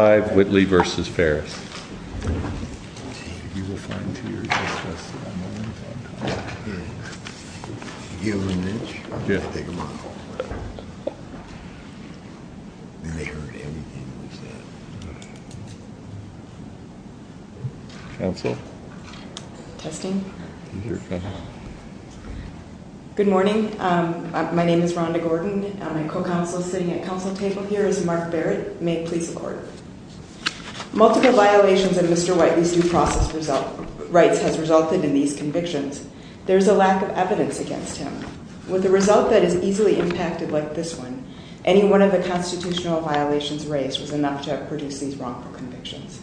Good morning. My name is Rhonda Gordon. My co-counsel sitting at council table here is Mark Barrett. May it please the court. Multiple violations of Mr. Whiteley's due process rights has resulted in these convictions. There is a lack of evidence against him. With a result that is easily impacted like this one, any one of the constitutional violations raised was enough to have produced these wrongful convictions.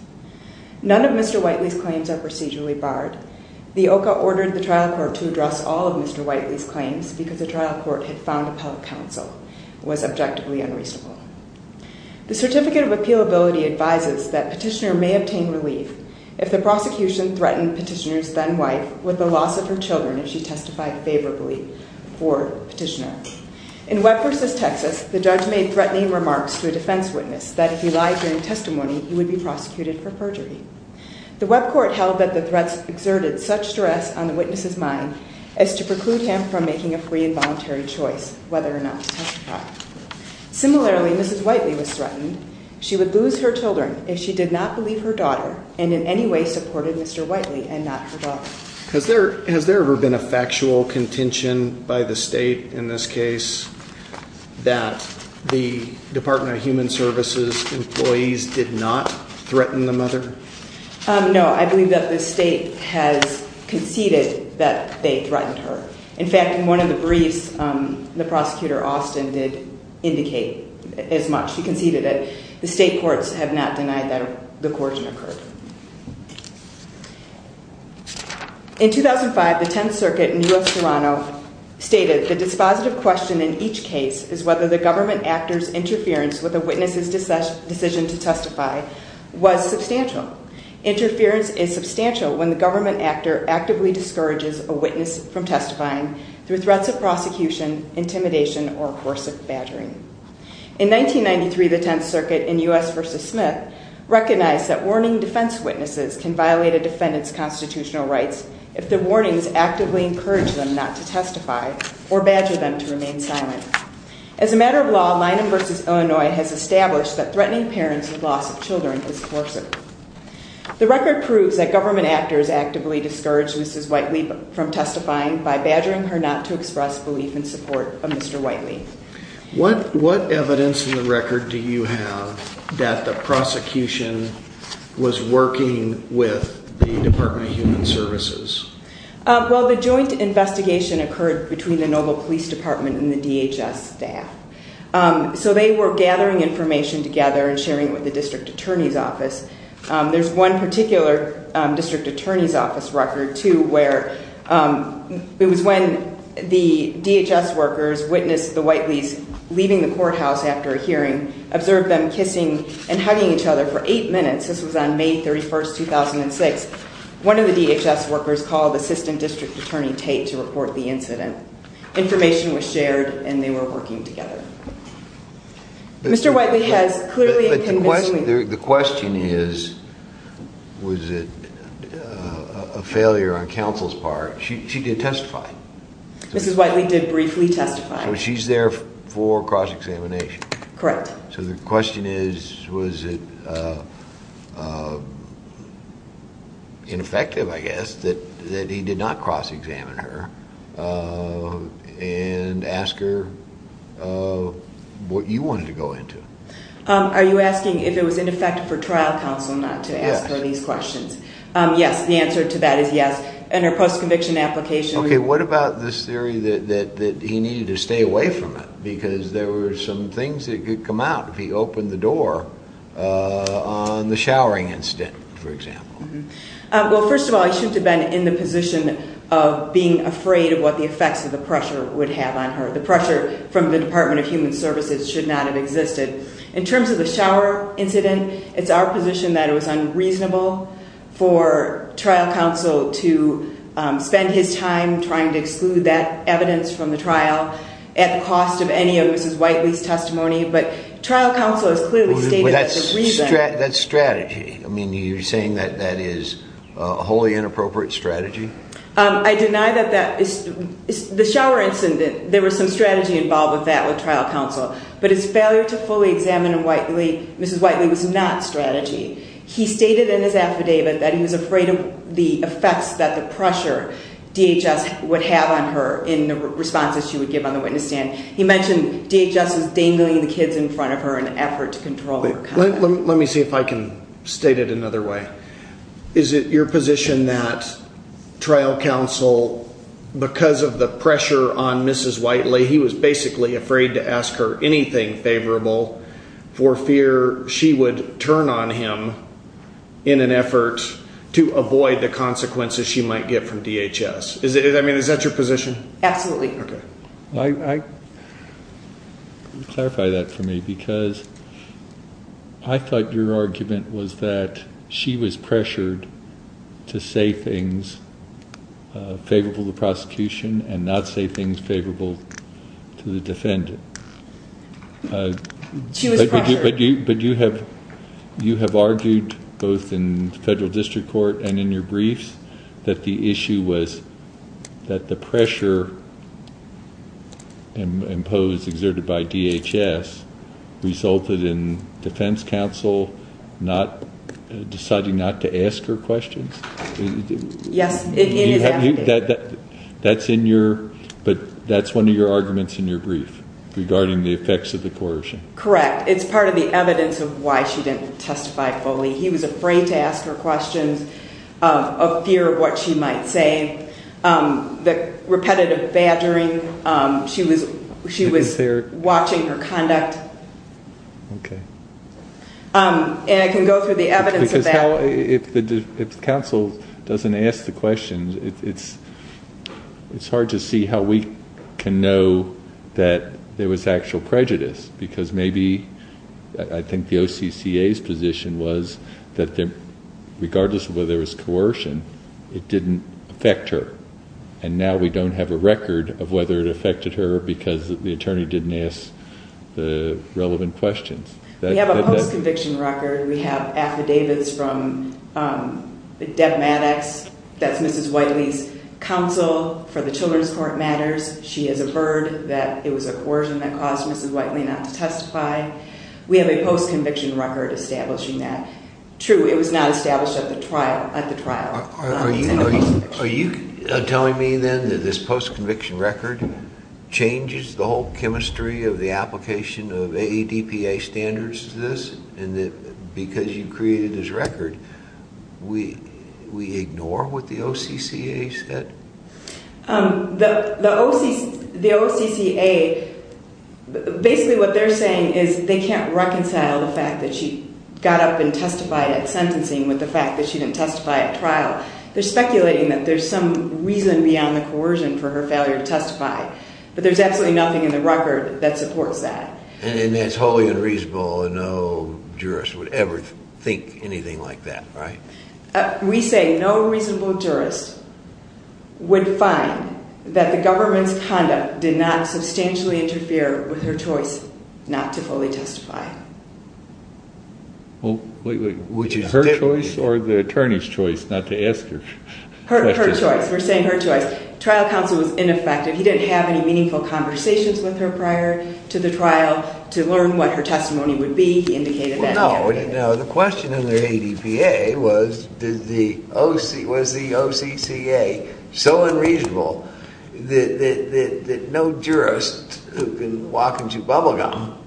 None of Mr. Whiteley's claims are procedurally barred. The OCA ordered the trial court to address all of Mr. Whiteley's claims because the trial court had found a public counsel. It was objectively unreasonable. The certificate of appealability advises that petitioner may obtain relief if the prosecution threatened petitioner's then wife with the loss of her children if she testified favorably for petitioner. In Webb v. Texas, the judge made threatening remarks to a defense witness that if he lied during testimony, he would be prosecuted for perjury. The Webb court held that the threats exerted such stress on the witness's mind as to preclude him from making a free and voluntary choice whether or not to testify. Similarly, Mrs. Whiteley was threatened she would lose her children if she did not believe her daughter and in any way supported Mr. Whiteley and not her daughter. Has there ever been a factual contention by the state in this case that the Department of Human Services employees did not threaten the mother? No, I believe that the state has conceded that they threatened her. In fact, in one of the briefs, the prosecutor, Austin, did indicate as much. He conceded it. The state courts have not denied that the coercion occurred. In 2005, the Tenth Circuit in U.S. Toronto stated the dispositive question in each case is whether the government actor's interference with a witness's decision to testify was substantial. Interference is substantial when the government actor actively discourages a witness from testifying through threats of prosecution, intimidation, or coercive badgering. In 1993, the Tenth Circuit in U.S. v. Smith recognized that warning defense witnesses can violate a defendant's constitutional rights if the warnings actively encourage them not to testify or badger them to remain silent. As a matter of law, Linum v. Illinois has established that threatening parents with loss of children is coercive. The record proves that government actors actively discouraged Mrs. Whiteley from testifying by badgering her not to express belief in support of Mr. Whiteley. What evidence in the record do you have that the prosecution was working with the Department of Human Services? Well, the joint investigation occurred between the Noble Police Department and the DHS staff. So they were gathering information together and sharing it with the district attorney's office. There's one particular district attorney's office record, too, where it was when the DHS workers witnessed the Whiteleys leaving the courthouse after a hearing, observed them kissing and hugging each other for eight minutes. This was on May 31, 2006. One of the DHS workers called Assistant District Attorney Tate to report the incident. Information was shared, and they were working together. Mr. Whiteley has clearly convinced me… But the question is, was it a failure on counsel's part? She did testify. Mrs. Whiteley did briefly testify. So she's there for cross-examination. Correct. So the question is, was it ineffective, I guess, that he did not cross-examine her and ask her what you wanted to go into? Are you asking if it was ineffective for trial counsel not to ask her these questions? Yes, the answer to that is yes. And her post-conviction application… Okay, what about this theory that he needed to stay away from it because there were some things that could come out if he opened the door on the showering incident, for example? Well, first of all, he shouldn't have been in the position of being afraid of what the effects of the pressure would have on her. The pressure from the Department of Human Services should not have existed. In terms of the shower incident, it's our position that it was unreasonable for trial counsel to spend his time trying to exclude that evidence from the trial at the cost of any of Mrs. Whiteley's testimony. But trial counsel has clearly stated that the reason… But that's strategy. I mean, you're saying that that is a wholly inappropriate strategy? I deny that that is… The shower incident, there was some strategy involved with that with trial counsel. But his failure to fully examine Mrs. Whiteley was not strategy. He stated in his affidavit that he was afraid of the effects that the pressure DHS would have on her in the responses she would give on the witness stand. He mentioned DHS was dangling the kids in front of her in an effort to control her. Let me see if I can state it another way. Is it your position that trial counsel, because of the pressure on Mrs. Whiteley, he was basically afraid to ask her anything favorable for fear she would turn on him in an effort to avoid the consequences she might get from DHS? I mean, is that your position? Absolutely. Clarify that for me because I thought your argument was that she was pressured to say things favorable to the prosecution and not say things favorable to the defendant. But you have argued both in federal district court and in your briefs that the issue was that the pressure imposed, exerted by DHS, resulted in defense counsel deciding not to ask her questions? Yes. That's in your… But that's one of your arguments in your brief regarding the effects of the coercion. Correct. It's part of the evidence of why she didn't testify fully. He was afraid to ask her questions, of fear of what she might say, the repetitive badgering. She was watching her conduct. Okay. And I can go through the evidence of that. If counsel doesn't ask the questions, it's hard to see how we can know that there was actual prejudice because maybe I think the OCCA's position was that regardless of whether there was coercion, it didn't affect her. And now we don't have a record of whether it affected her because the attorney didn't ask the relevant questions. We have a post-conviction record. We have affidavits from Deb Maddox. That's Mrs. Whiteley's counsel for the children's court matters. She has averted that it was a coercion that caused Mrs. Whiteley not to testify. We have a post-conviction record establishing that. True, it was not established at the trial. Are you telling me then that this post-conviction record changes the whole chemistry of the application of AEDPA standards to this and that because you created this record, we ignore what the OCCA said? The OCCA, basically what they're saying is they can't reconcile the fact that she got up and testified at sentencing with the fact that she didn't testify at trial. They're speculating that there's some reason beyond the coercion for her failure to testify, but there's absolutely nothing in the record that supports that. And that's wholly unreasonable and no jurist would ever think anything like that, right? We say no reasonable jurist would find that the government's conduct did not substantially interfere with her choice not to fully testify. Wait, wait, her choice or the attorney's choice not to ask her questions? Her choice. We're saying her choice. Trial counsel was ineffective. He didn't have any meaningful conversations with her prior to the trial to learn what her testimony would be. Well, no. The question under AEDPA was, was the OCCA so unreasonable that no jurist who can walk into bubble gum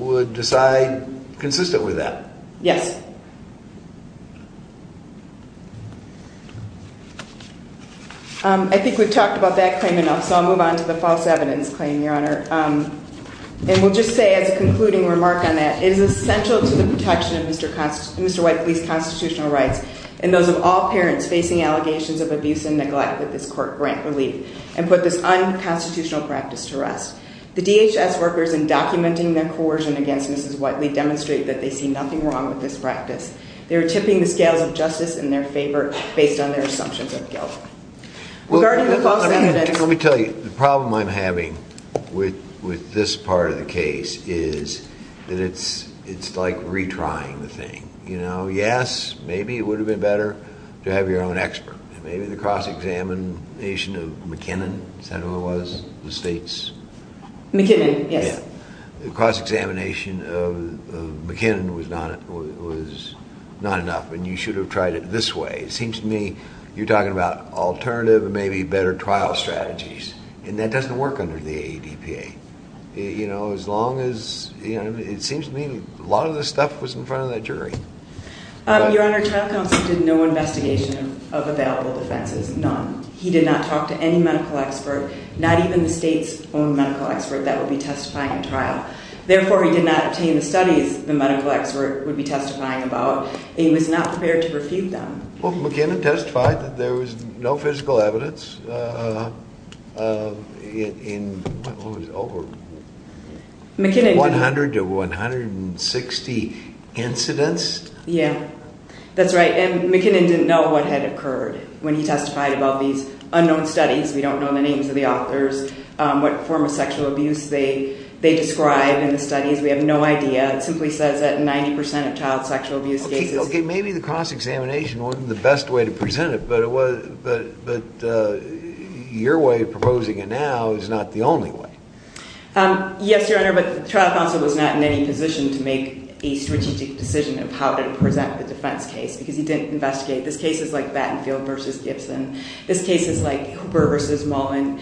would decide consistent with that? Yes. I think we've talked about that claim enough, so I'll move on to the false evidence claim, Your Honor. And we'll just say as a concluding remark on that, it is essential to the protection of Mr. White's police constitutional rights and those of all parents facing allegations of abuse and neglect that this court grant relief and put this unconstitutional practice to rest. The DHS workers in documenting their coercion against Mrs. Whiteley demonstrate that they see nothing wrong with this practice. They are tipping the scales of justice in their favor based on their assumptions of guilt. Regarding the false evidence... Let me tell you, the problem I'm having with this part of the case is that it's like retrying the thing. Yes, maybe it would have been better to have your own expert. Maybe the cross-examination of McKinnon, is that who it was? The state's? McKinnon, yes. The cross-examination of McKinnon was not enough, and you should have tried it this way. It seems to me you're talking about alternative and maybe better trial strategies, and that doesn't work under the AEDPA. It seems to me a lot of this stuff was in front of that jury. Your Honor, trial counsel did no investigation of available defenses, none. He did not talk to any medical expert, not even the state's own medical expert that would be testifying at trial. Therefore, he did not obtain the studies the medical expert would be testifying about, and he was not prepared to refute them. Well, McKinnon testified that there was no physical evidence in over 100 to 160 incidents. Yeah, that's right, and McKinnon didn't know what had occurred when he testified about these unknown studies. We don't know the names of the authors, what form of sexual abuse they describe in the studies. We have no idea. It simply says that 90% of child sexual abuse cases... Okay, maybe the cross-examination wasn't the best way to present it, but your way of proposing it now is not the only way. Yes, Your Honor, but trial counsel was not in any position to make a strategic decision of how to present the defense case because he didn't investigate. This case is like Battenfield v. Gibson. This case is like Hooper v. Mullen.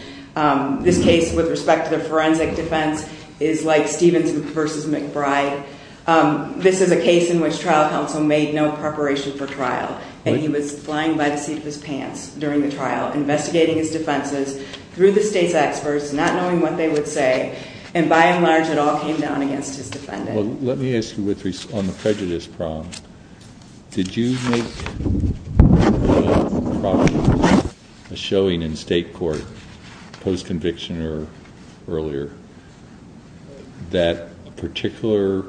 This case, with respect to the forensic defense, is like Stevens v. McBride. This is a case in which trial counsel made no preparation for trial, and he was flying by the seat of his pants during the trial, investigating his defenses through the state's experts, not knowing what they would say, and by and large it all came down against his defendant. Well, let me ask you on the prejudice problem. Did you make a showing in state court post-conviction or earlier that a particular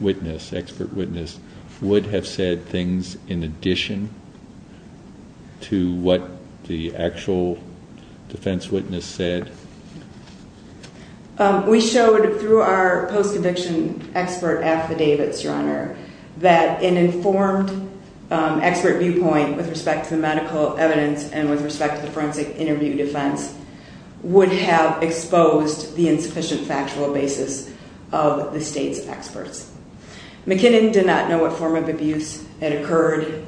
witness, expert witness, would have said things in addition to what the actual defense witness said? We showed through our post-conviction expert affidavits, Your Honor, that an informed expert viewpoint with respect to the medical evidence and with respect to the forensic interview defense would have exposed the insufficient factual basis of the state's experts. McKinnon did not know what form of abuse had occurred.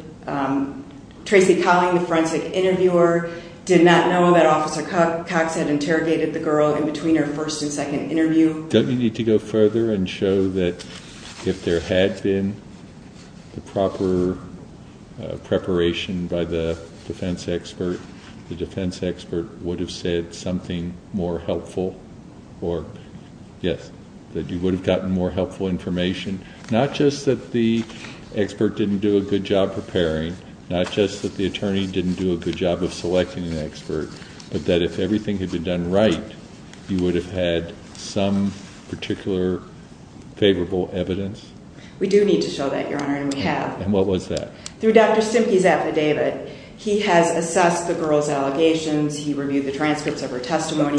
Tracy Colling, the forensic interviewer, did not know that Officer Cox had interrogated the girl in between her first and second interview. Don't you need to go further and show that if there had been the proper preparation by the defense expert, the defense expert would have said something more helpful or, yes, that you would have gotten more helpful information, not just that the expert didn't do a good job preparing, not just that the attorney didn't do a good job of selecting an expert, but that if everything had been done right, you would have had some particular favorable evidence? We do need to show that, Your Honor, and we have. And what was that? Through Dr. Stimke's affidavit, he has assessed the girl's allegations, he reviewed the transcripts of her testimony,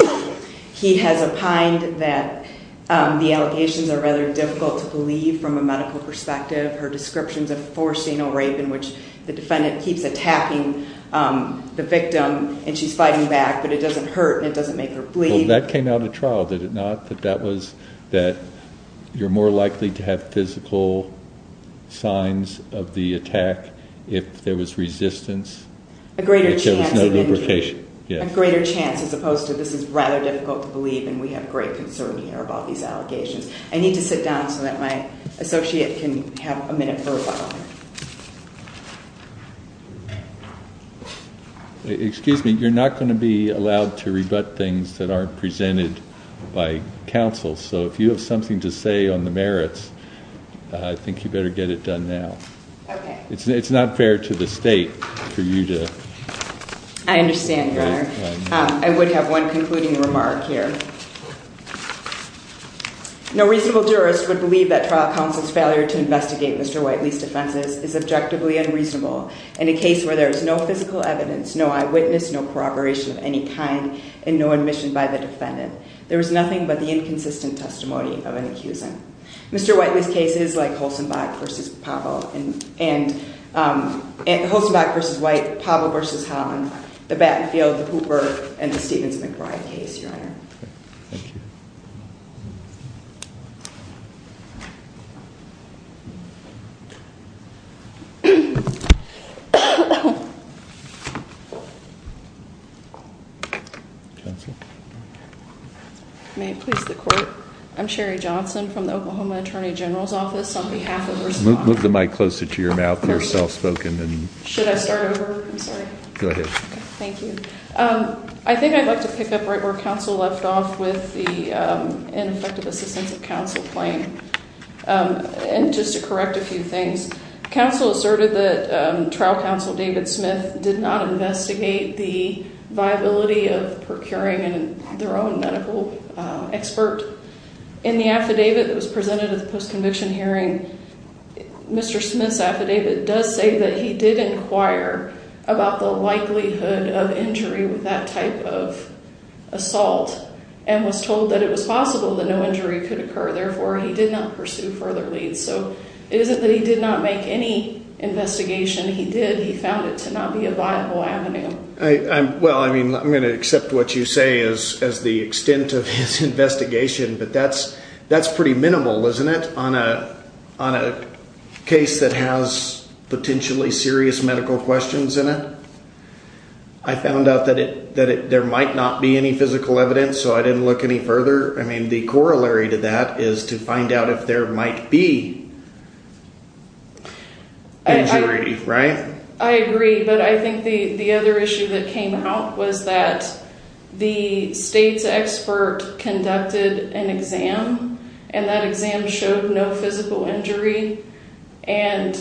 he has opined that the allegations are rather difficult to believe from a medical perspective, her descriptions of forced anal rape in which the defendant keeps attacking the victim and she's fighting back, but it doesn't hurt and it doesn't make her bleed. Well, that came out at trial, did it not, that that was that you're more likely to have physical signs of the attack if there was resistance? A greater chance of injury. If there was no lubrication, yes. A greater chance, as opposed to this is rather difficult to believe and we have great concern here about these allegations. I need to sit down so that my associate can have a minute for a while. Excuse me, you're not going to be allowed to rebut things that aren't presented by counsel, so if you have something to say on the merits, I think you better get it done now. Okay. It's not fair to the state for you to... I understand, Your Honor. I would have one concluding remark here. No reasonable jurist would believe that trial counsel's failure to investigate Mr. Whiteley's defenses is objectively unreasonable. In a case where there is no physical evidence, no eyewitness, no corroboration of any kind, and no admission by the defendant, there is nothing but the inconsistent testimony of an accusant. Mr. Whiteley's case is like Holstenbach v. White, Pavel v. Holland, the Battenfield, the Cooper, and the Stevens-McBride case, Your Honor. Thank you. I'm Sherry Johnson from the Oklahoma Attorney General's Office. On behalf of... Move the mic closer to your mouth. You're self-spoken. Should I start over? I'm sorry. Go ahead. Thank you. I think I'd like to pick up right where counsel left off with the ineffective assistance of counsel claim. And just to correct a few things, counsel asserted that trial counsel David Smith did not investigate the viability of procuring their own medical expert. In the affidavit that was presented at the post-conviction hearing, Mr. Smith's affidavit does say that he did inquire about the likelihood of injury with that type of assault and was told that it was possible that no injury could occur. Therefore, he did not pursue further leads. So it isn't that he did not make any investigation. He did. He found it to not be a viable avenue. Well, I mean, I'm going to accept what you say as the extent of his investigation, but that's pretty minimal, isn't it, on a case that has potentially serious medical questions in it? I found out that there might not be any physical evidence, so I didn't look any further. I mean, the corollary to that is to find out if there might be injury, right? I agree, but I think the other issue that came out was that the state's expert conducted an exam, and that exam showed no physical injury, and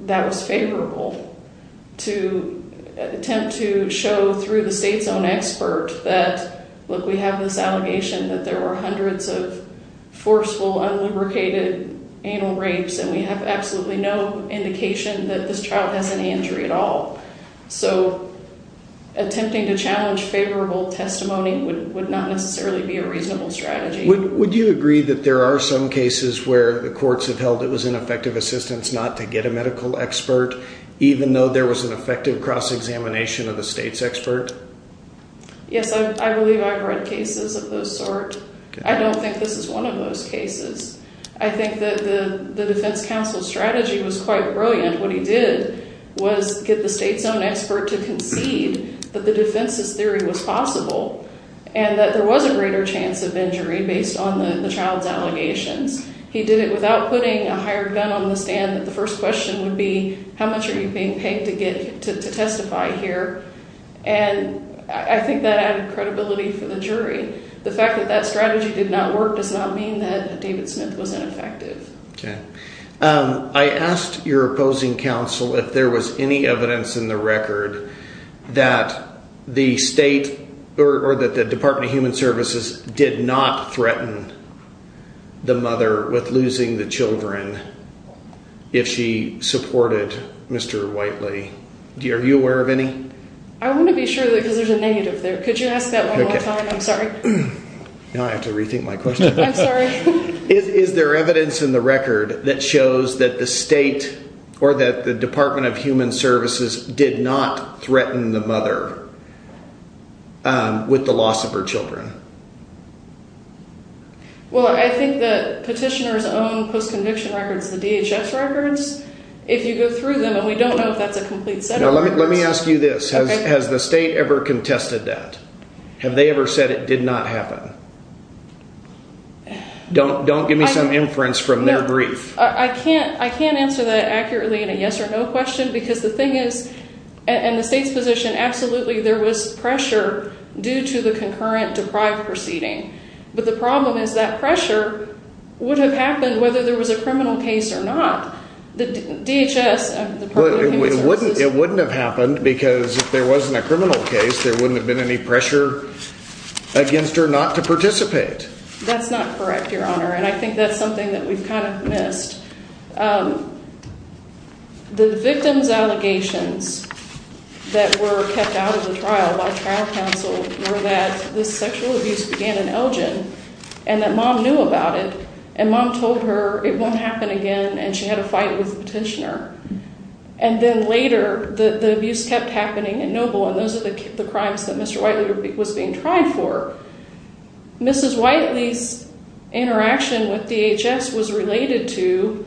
that was favorable to attempt to show through the state's own expert that, look, we have this allegation that there were hundreds of forceful, unlubricated anal rapes, and we have absolutely no indication that this child has any injury at all. So attempting to challenge favorable testimony would not necessarily be a reasonable strategy. Would you agree that there are some cases where the courts have held it was ineffective assistance not to get a medical expert, even though there was an effective cross-examination of the state's expert? Yes, I believe I've read cases of those sort. I don't think this is one of those cases. I think that the defense counsel's strategy was quite brilliant. What he did was get the state's own expert to concede that the defense's theory was possible and that there was a greater chance of injury based on the child's allegations. He did it without putting a higher gun on the stand that the first question would be, how much are you being paid to testify here? And I think that added credibility for the jury. The fact that that strategy did not work does not mean that David Smith was ineffective. I asked your opposing counsel if there was any evidence in the record that the state or that the Department of Human Services did not threaten the mother with losing the children if she supported Mr. Whiteley. Are you aware of any? I want to be sure because there's a negative there. Could you ask that one more time? I'm sorry. Now I have to rethink my question. I'm sorry. Is there evidence in the record that shows that the state or that the Department of Human Services did not threaten the mother with the loss of her children? Well, I think the petitioner's own post-conviction records, the DHS records, if you go through them, and we don't know if that's a complete set of records. Let me ask you this. Has the state ever contested that? Have they ever said it did not happen? Don't give me some inference from their brief. I can't answer that accurately in a yes or no question because the thing is, in the state's position, absolutely there was pressure due to the concurrent deprived proceeding. But the problem is that pressure would have happened whether there was a criminal case or not. The DHS, the Department of Human Services It wouldn't have happened because if there wasn't a criminal case, there wouldn't have been any pressure against her not to participate. That's not correct, Your Honor, and I think that's something that we've kind of missed. The victim's allegations that were kept out of the trial by trial counsel were that this sexual abuse began in Elgin and that Mom knew about it and Mom told her it won't happen again and she had a fight with the petitioner. And then later, the abuse kept happening in Noble and those are the crimes that Mr. Whiteley was being tried for. Mrs. Whiteley's interaction with DHS was related to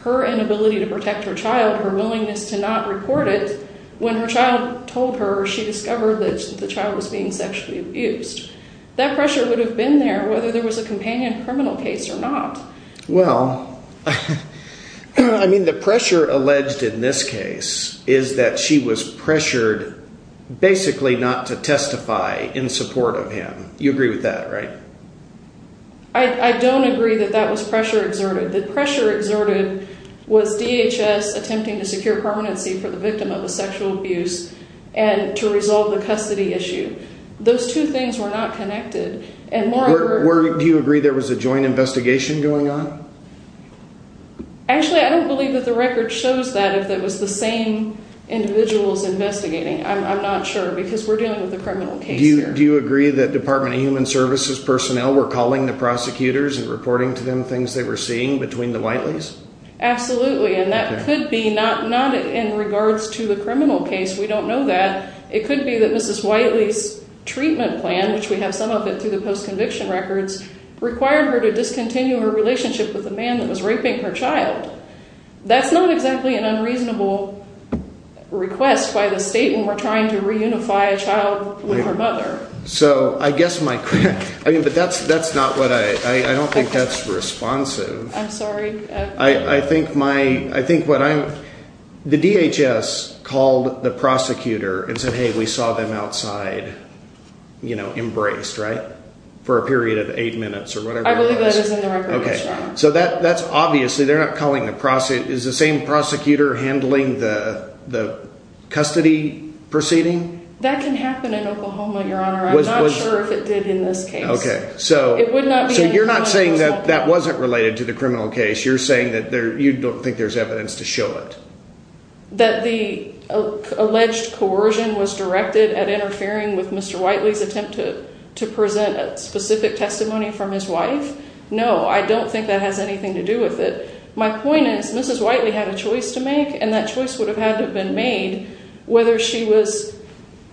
her inability to protect her child, her willingness to not report it, when her child told her she discovered that the child was being sexually abused. That pressure would have been there whether there was a companion criminal case or not. Well, I mean the pressure alleged in this case is that she was pressured basically not to testify in support of him. You agree with that, right? I don't agree that that was pressure exerted. The pressure exerted was DHS attempting to secure permanency for the victim of a sexual abuse and to resolve the custody issue. Those two things were not connected. Do you agree there was a joint investigation going on? Actually, I don't believe that the record shows that if it was the same individuals investigating. I'm not sure because we're dealing with a criminal case here. Do you agree that Department of Human Services personnel were calling the prosecutors and reporting to them things they were seeing between the Whiteleys? Absolutely, and that could be not in regards to the criminal case. We don't know that. It could be that Mrs. Whiteley's treatment plan, which we have some of it through the post-conviction records, required her to discontinue her relationship with the man that was raping her child. That's not exactly an unreasonable request by the state when we're trying to reunify a child with her mother. So I guess my question, but that's not what I, I don't think that's responsive. I'm sorry. I think my, I think what I'm, the DHS called the prosecutor and said, hey, we saw them outside, you know, embraced, right? For a period of eight minutes or whatever it was. I believe that is in the records, Your Honor. Okay, so that's obviously, they're not calling the prosecutor, is the same prosecutor handling the custody proceeding? That can happen in Oklahoma, Your Honor. I'm not sure if it did in this case. Okay, so you're not saying that that wasn't related to the criminal case. You're saying that you don't think there's evidence to show it. That the alleged coercion was directed at interfering with Mr. Whiteley's attempt to present a specific testimony from his wife? No, I don't think that has anything to do with it. My point is Mrs. Whiteley had a choice to make, and that choice would have had to have been made whether she was,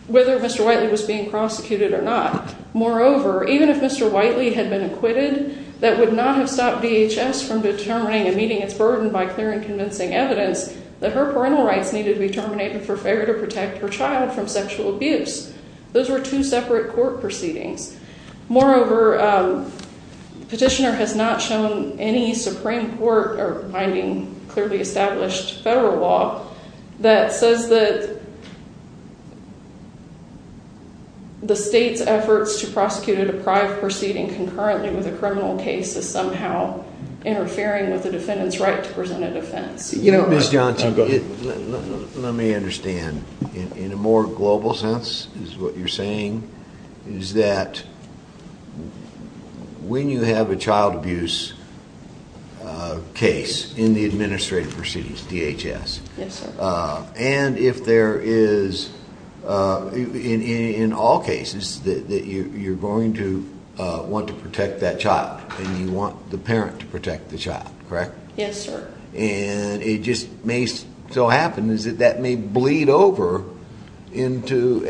whether Mr. Whiteley was being prosecuted or not. Moreover, even if Mr. Whiteley had been acquitted, that would not have stopped DHS from determining and meeting its burden by clearing convincing evidence that her parental rights needed to be terminated for fair to protect her child from sexual abuse. Those were two separate court proceedings. Moreover, the petitioner has not shown any Supreme Court or finding clearly established federal law that says that the state's efforts to prosecute a deprived proceeding concurrently with a criminal case is somehow interfering with the defendant's right to present a defense. Ms. Johnson, let me understand. In a more global sense, is what you're saying, is that when you have a child abuse case in the administrative proceedings of DHS, and if there is, in all cases, that you're going to want to protect that child and you want the parent to protect the child, correct? Yes, sir. And it just may so happen that that may bleed over into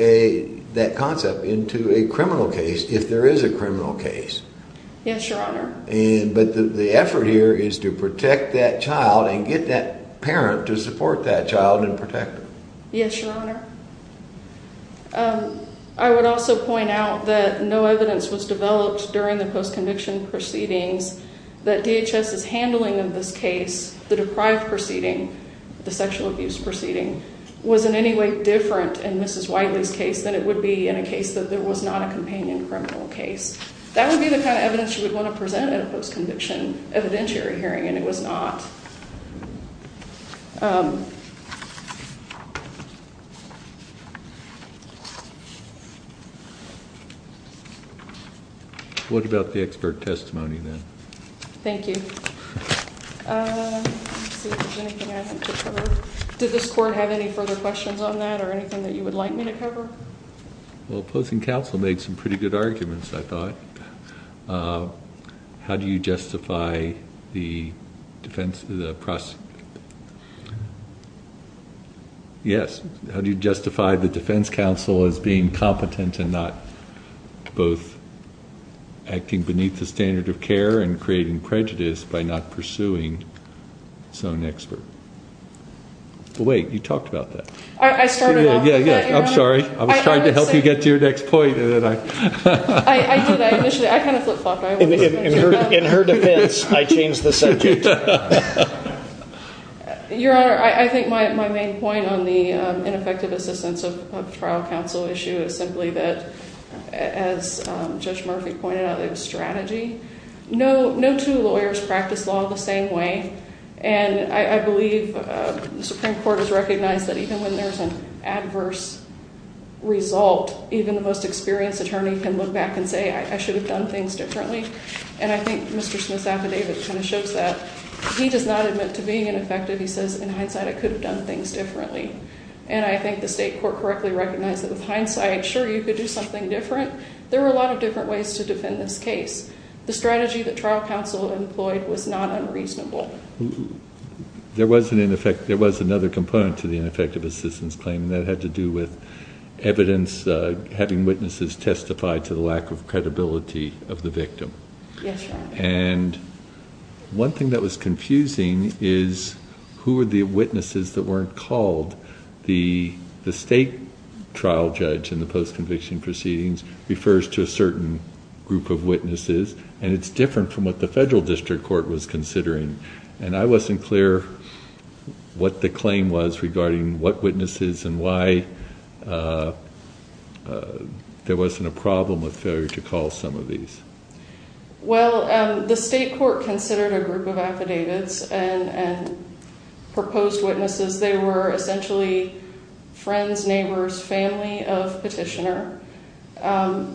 that concept, into a criminal case, if there is a criminal case. Yes, Your Honor. But the effort here is to protect that child and get that parent to support that child and protect her. Yes, Your Honor. I would also point out that no evidence was developed during the post-conviction proceedings that DHS's handling of this case, the deprived proceeding, the sexual abuse proceeding, was in any way different in Mrs. Wiley's case than it would be in a case that there was not a companion criminal case. That would be the kind of evidence you would want to present at a post-conviction evidentiary hearing, and it was not. Thank you. What about the expert testimony, then? Thank you. Did this Court have any further questions on that or anything that you would like me to cover? Well, opposing counsel made some pretty good arguments, I thought. How do you justify the defense of the prosecution? Yes. How do you justify the defense counsel as being competent and not both acting beneath the standard of care and creating prejudice by not pursuing its own expert? Wait, you talked about that. I started off with that, Your Honor. I'm sorry. I was trying to help you get to your next point. I did. I kind of flip-flopped. In her defense, I changed the subject. Your Honor, I think my main point on the ineffective assistance of trial counsel issue is simply that, as Judge Murphy pointed out, it was strategy. No two lawyers practice law the same way, and I believe the Supreme Court has recognized that even when there's an adverse result, even the most experienced attorney can look back and say, I should have done things differently, and I think Mr. Smith's affidavit kind of shows that. He does not admit to being ineffective. He says, in hindsight, I could have done things differently, and I think the state court correctly recognized that with hindsight, sure, you could do something different. There are a lot of different ways to defend this case. The strategy that trial counsel employed was not unreasonable. There was another component to the ineffective assistance claim, and that had to do with evidence, which was having witnesses testify to the lack of credibility of the victim. Yes, Your Honor. One thing that was confusing is who were the witnesses that weren't called. The state trial judge in the post-conviction proceedings refers to a certain group of witnesses, and it's different from what the federal district court was considering, and I wasn't clear what the claim was regarding what witnesses and why there wasn't a problem with failure to call some of these. Well, the state court considered a group of affidavits and proposed witnesses. They were essentially friends, neighbors, family of petitioner. Was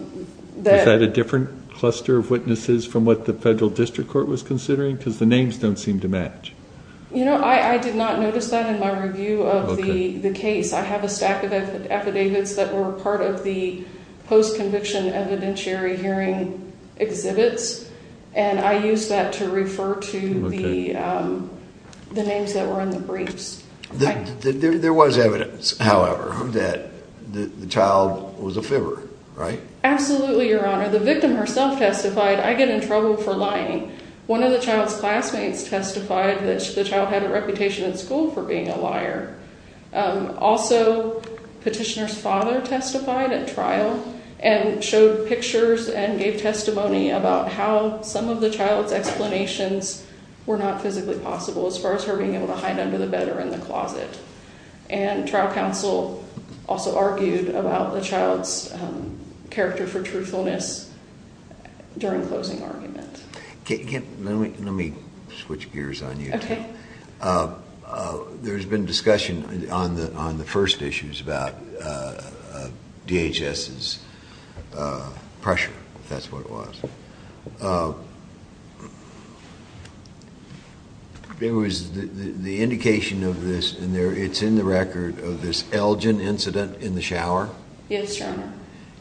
that a different cluster of witnesses from what the federal district court was considering because the names don't seem to match? I did not notice that in my review of the case. I have a stack of affidavits that were part of the post-conviction evidentiary hearing exhibits, and I used that to refer to the names that were in the briefs. There was evidence, however, that the child was a fibber, right? Absolutely, Your Honor. One of the child's classmates testified that the child had a reputation in school for being a liar. Also, petitioner's father testified at trial and showed pictures and gave testimony about how some of the child's explanations were not physically possible as far as her being able to hide under the bed or in the closet. Trial counsel also argued about the child's character for truthfulness during closing argument. Let me switch gears on you. Okay. There's been discussion on the first issues about DHS's pressure, if that's what it was. There was the indication of this, and it's in the record, of this Elgin incident in the shower. Yes, Your Honor.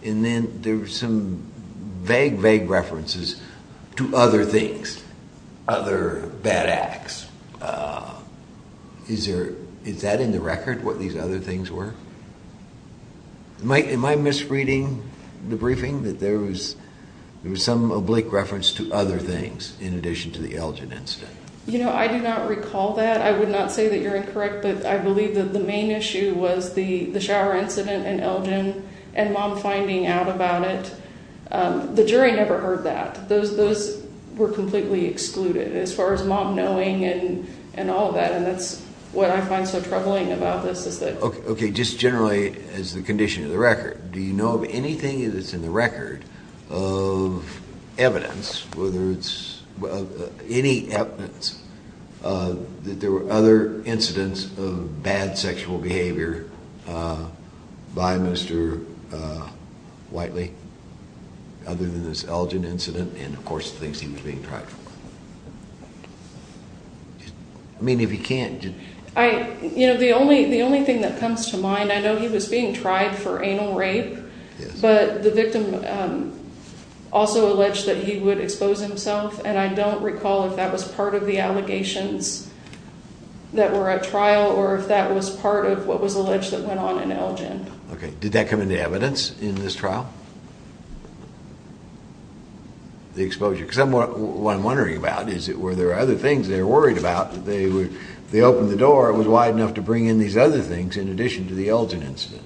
Then there were some vague, vague references to other things, other bad acts. Is that in the record, what these other things were? Am I misreading the briefing that there was some oblique reference to other things in addition to the Elgin incident? You know, I do not recall that. I would not say that you're incorrect, but I believe that the main issue was the shower incident in Elgin and Mom finding out about it. The jury never heard that. Those were completely excluded as far as Mom knowing and all of that, and that's what I find so troubling about this. Okay. Just generally, as the condition of the record, do you know of anything that's in the record of evidence, whether it's any evidence that there were other incidents of bad sexual behavior by Mr. Whiteley other than this Elgin incident? And, of course, the things he was being tried for. I mean, if you can't— You know, the only thing that comes to mind, I know he was being tried for anal rape, but the victim also alleged that he would expose himself, and I don't recall if that was part of the allegations that were at trial or if that was part of what was alleged that went on in Elgin. Okay. Did that come into evidence in this trial, the exposure? Because what I'm wondering about is, were there other things they were worried about? If they opened the door, it was wide enough to bring in these other things in addition to the Elgin incident.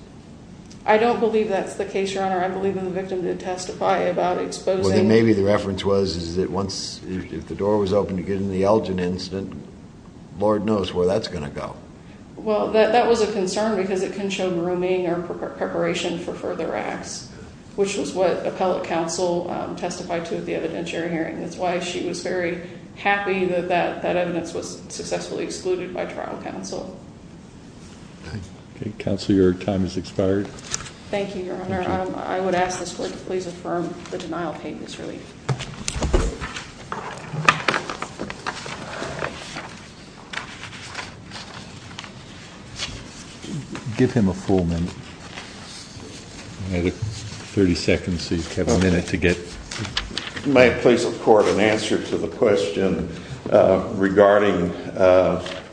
I don't believe that's the case, Your Honor. I believe that the victim did testify about exposing— Well, then maybe the reference was that if the door was open to get in the Elgin incident, Lord knows where that's going to go. Well, that was a concern because it can show grooming or preparation for further acts, which was what appellate counsel testified to at the evidentiary hearing. That's why she was very happy that that evidence was successfully excluded by trial counsel. Okay. Counsel, your time has expired. Thank you, Your Honor. Thank you. I would ask this Court to please affirm the denial of hate misrelief. Give him a full minute. I have 30 seconds, so you have a minute to get— May it please the Court an answer to the question regarding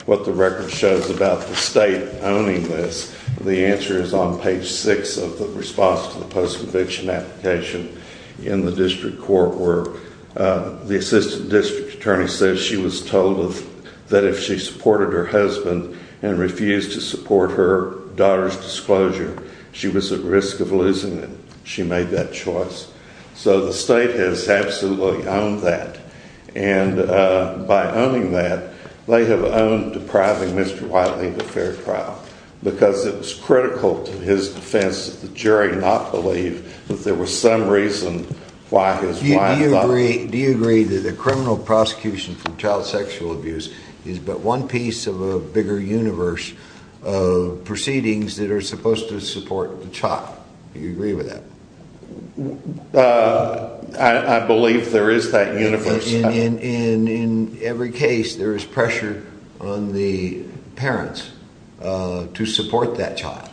what the record shows about the state owning this? The answer is on page 6 of the response to the post-conviction application in the district court where the assistant district attorney says she was told that if she supported her husband and refused to support her daughter's disclosure, she was at risk of losing it. She made that choice. So the state has absolutely owned that. And by owning that, they have owned depriving Mr. Wiley of a fair trial because it was critical to his defense that the jury not believe that there was some reason why his wife— Do you agree that a criminal prosecution for child sexual abuse is but one piece of a bigger universe of proceedings that are supposed to support the child? Do you agree with that? I believe there is that universe. In every case, there is pressure on the parents to support that child.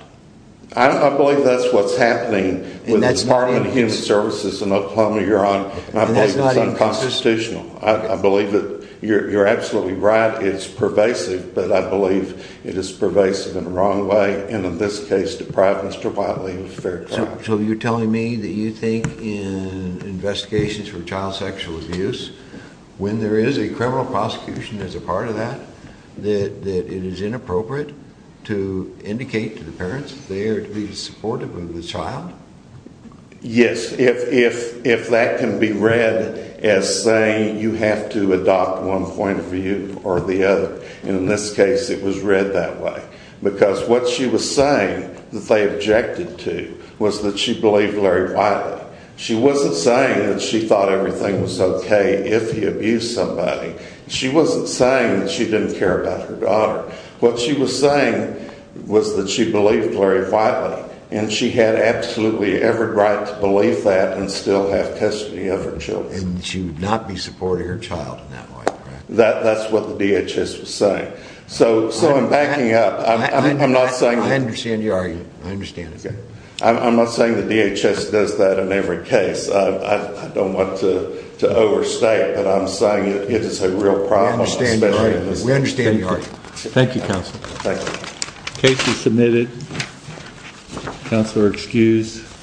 I believe that's what's happening with the Department of Human Services and Oklahoma-Huron. I believe it's unconstitutional. I believe that you're absolutely right, it's pervasive, but I believe it is pervasive in the wrong way and in this case depriving Mr. Wiley of a fair trial. So you're telling me that you think in investigations for child sexual abuse, when there is a criminal prosecution as a part of that, that it is inappropriate to indicate to the parents that they are to be supportive of the child? Yes, if that can be read as saying you have to adopt one point of view or the other. And in this case, it was read that way. Because what she was saying that they objected to was that she believed Larry Wiley. She wasn't saying that she thought everything was okay if he abused somebody. She wasn't saying that she didn't care about her daughter. What she was saying was that she believed Larry Wiley and she had absolutely every right to believe that and still have custody of her children. And she would not be supporting her child in that way, correct? That's what the DHS was saying. So I'm backing up. I'm not saying... I understand your argument. I understand it. I'm not saying the DHS does that in every case. I don't want to overstate, but I'm saying it is a real problem. I understand your argument. We understand your argument. Thank you, Counsel. Thank you. Case is submitted. Counsel are excused.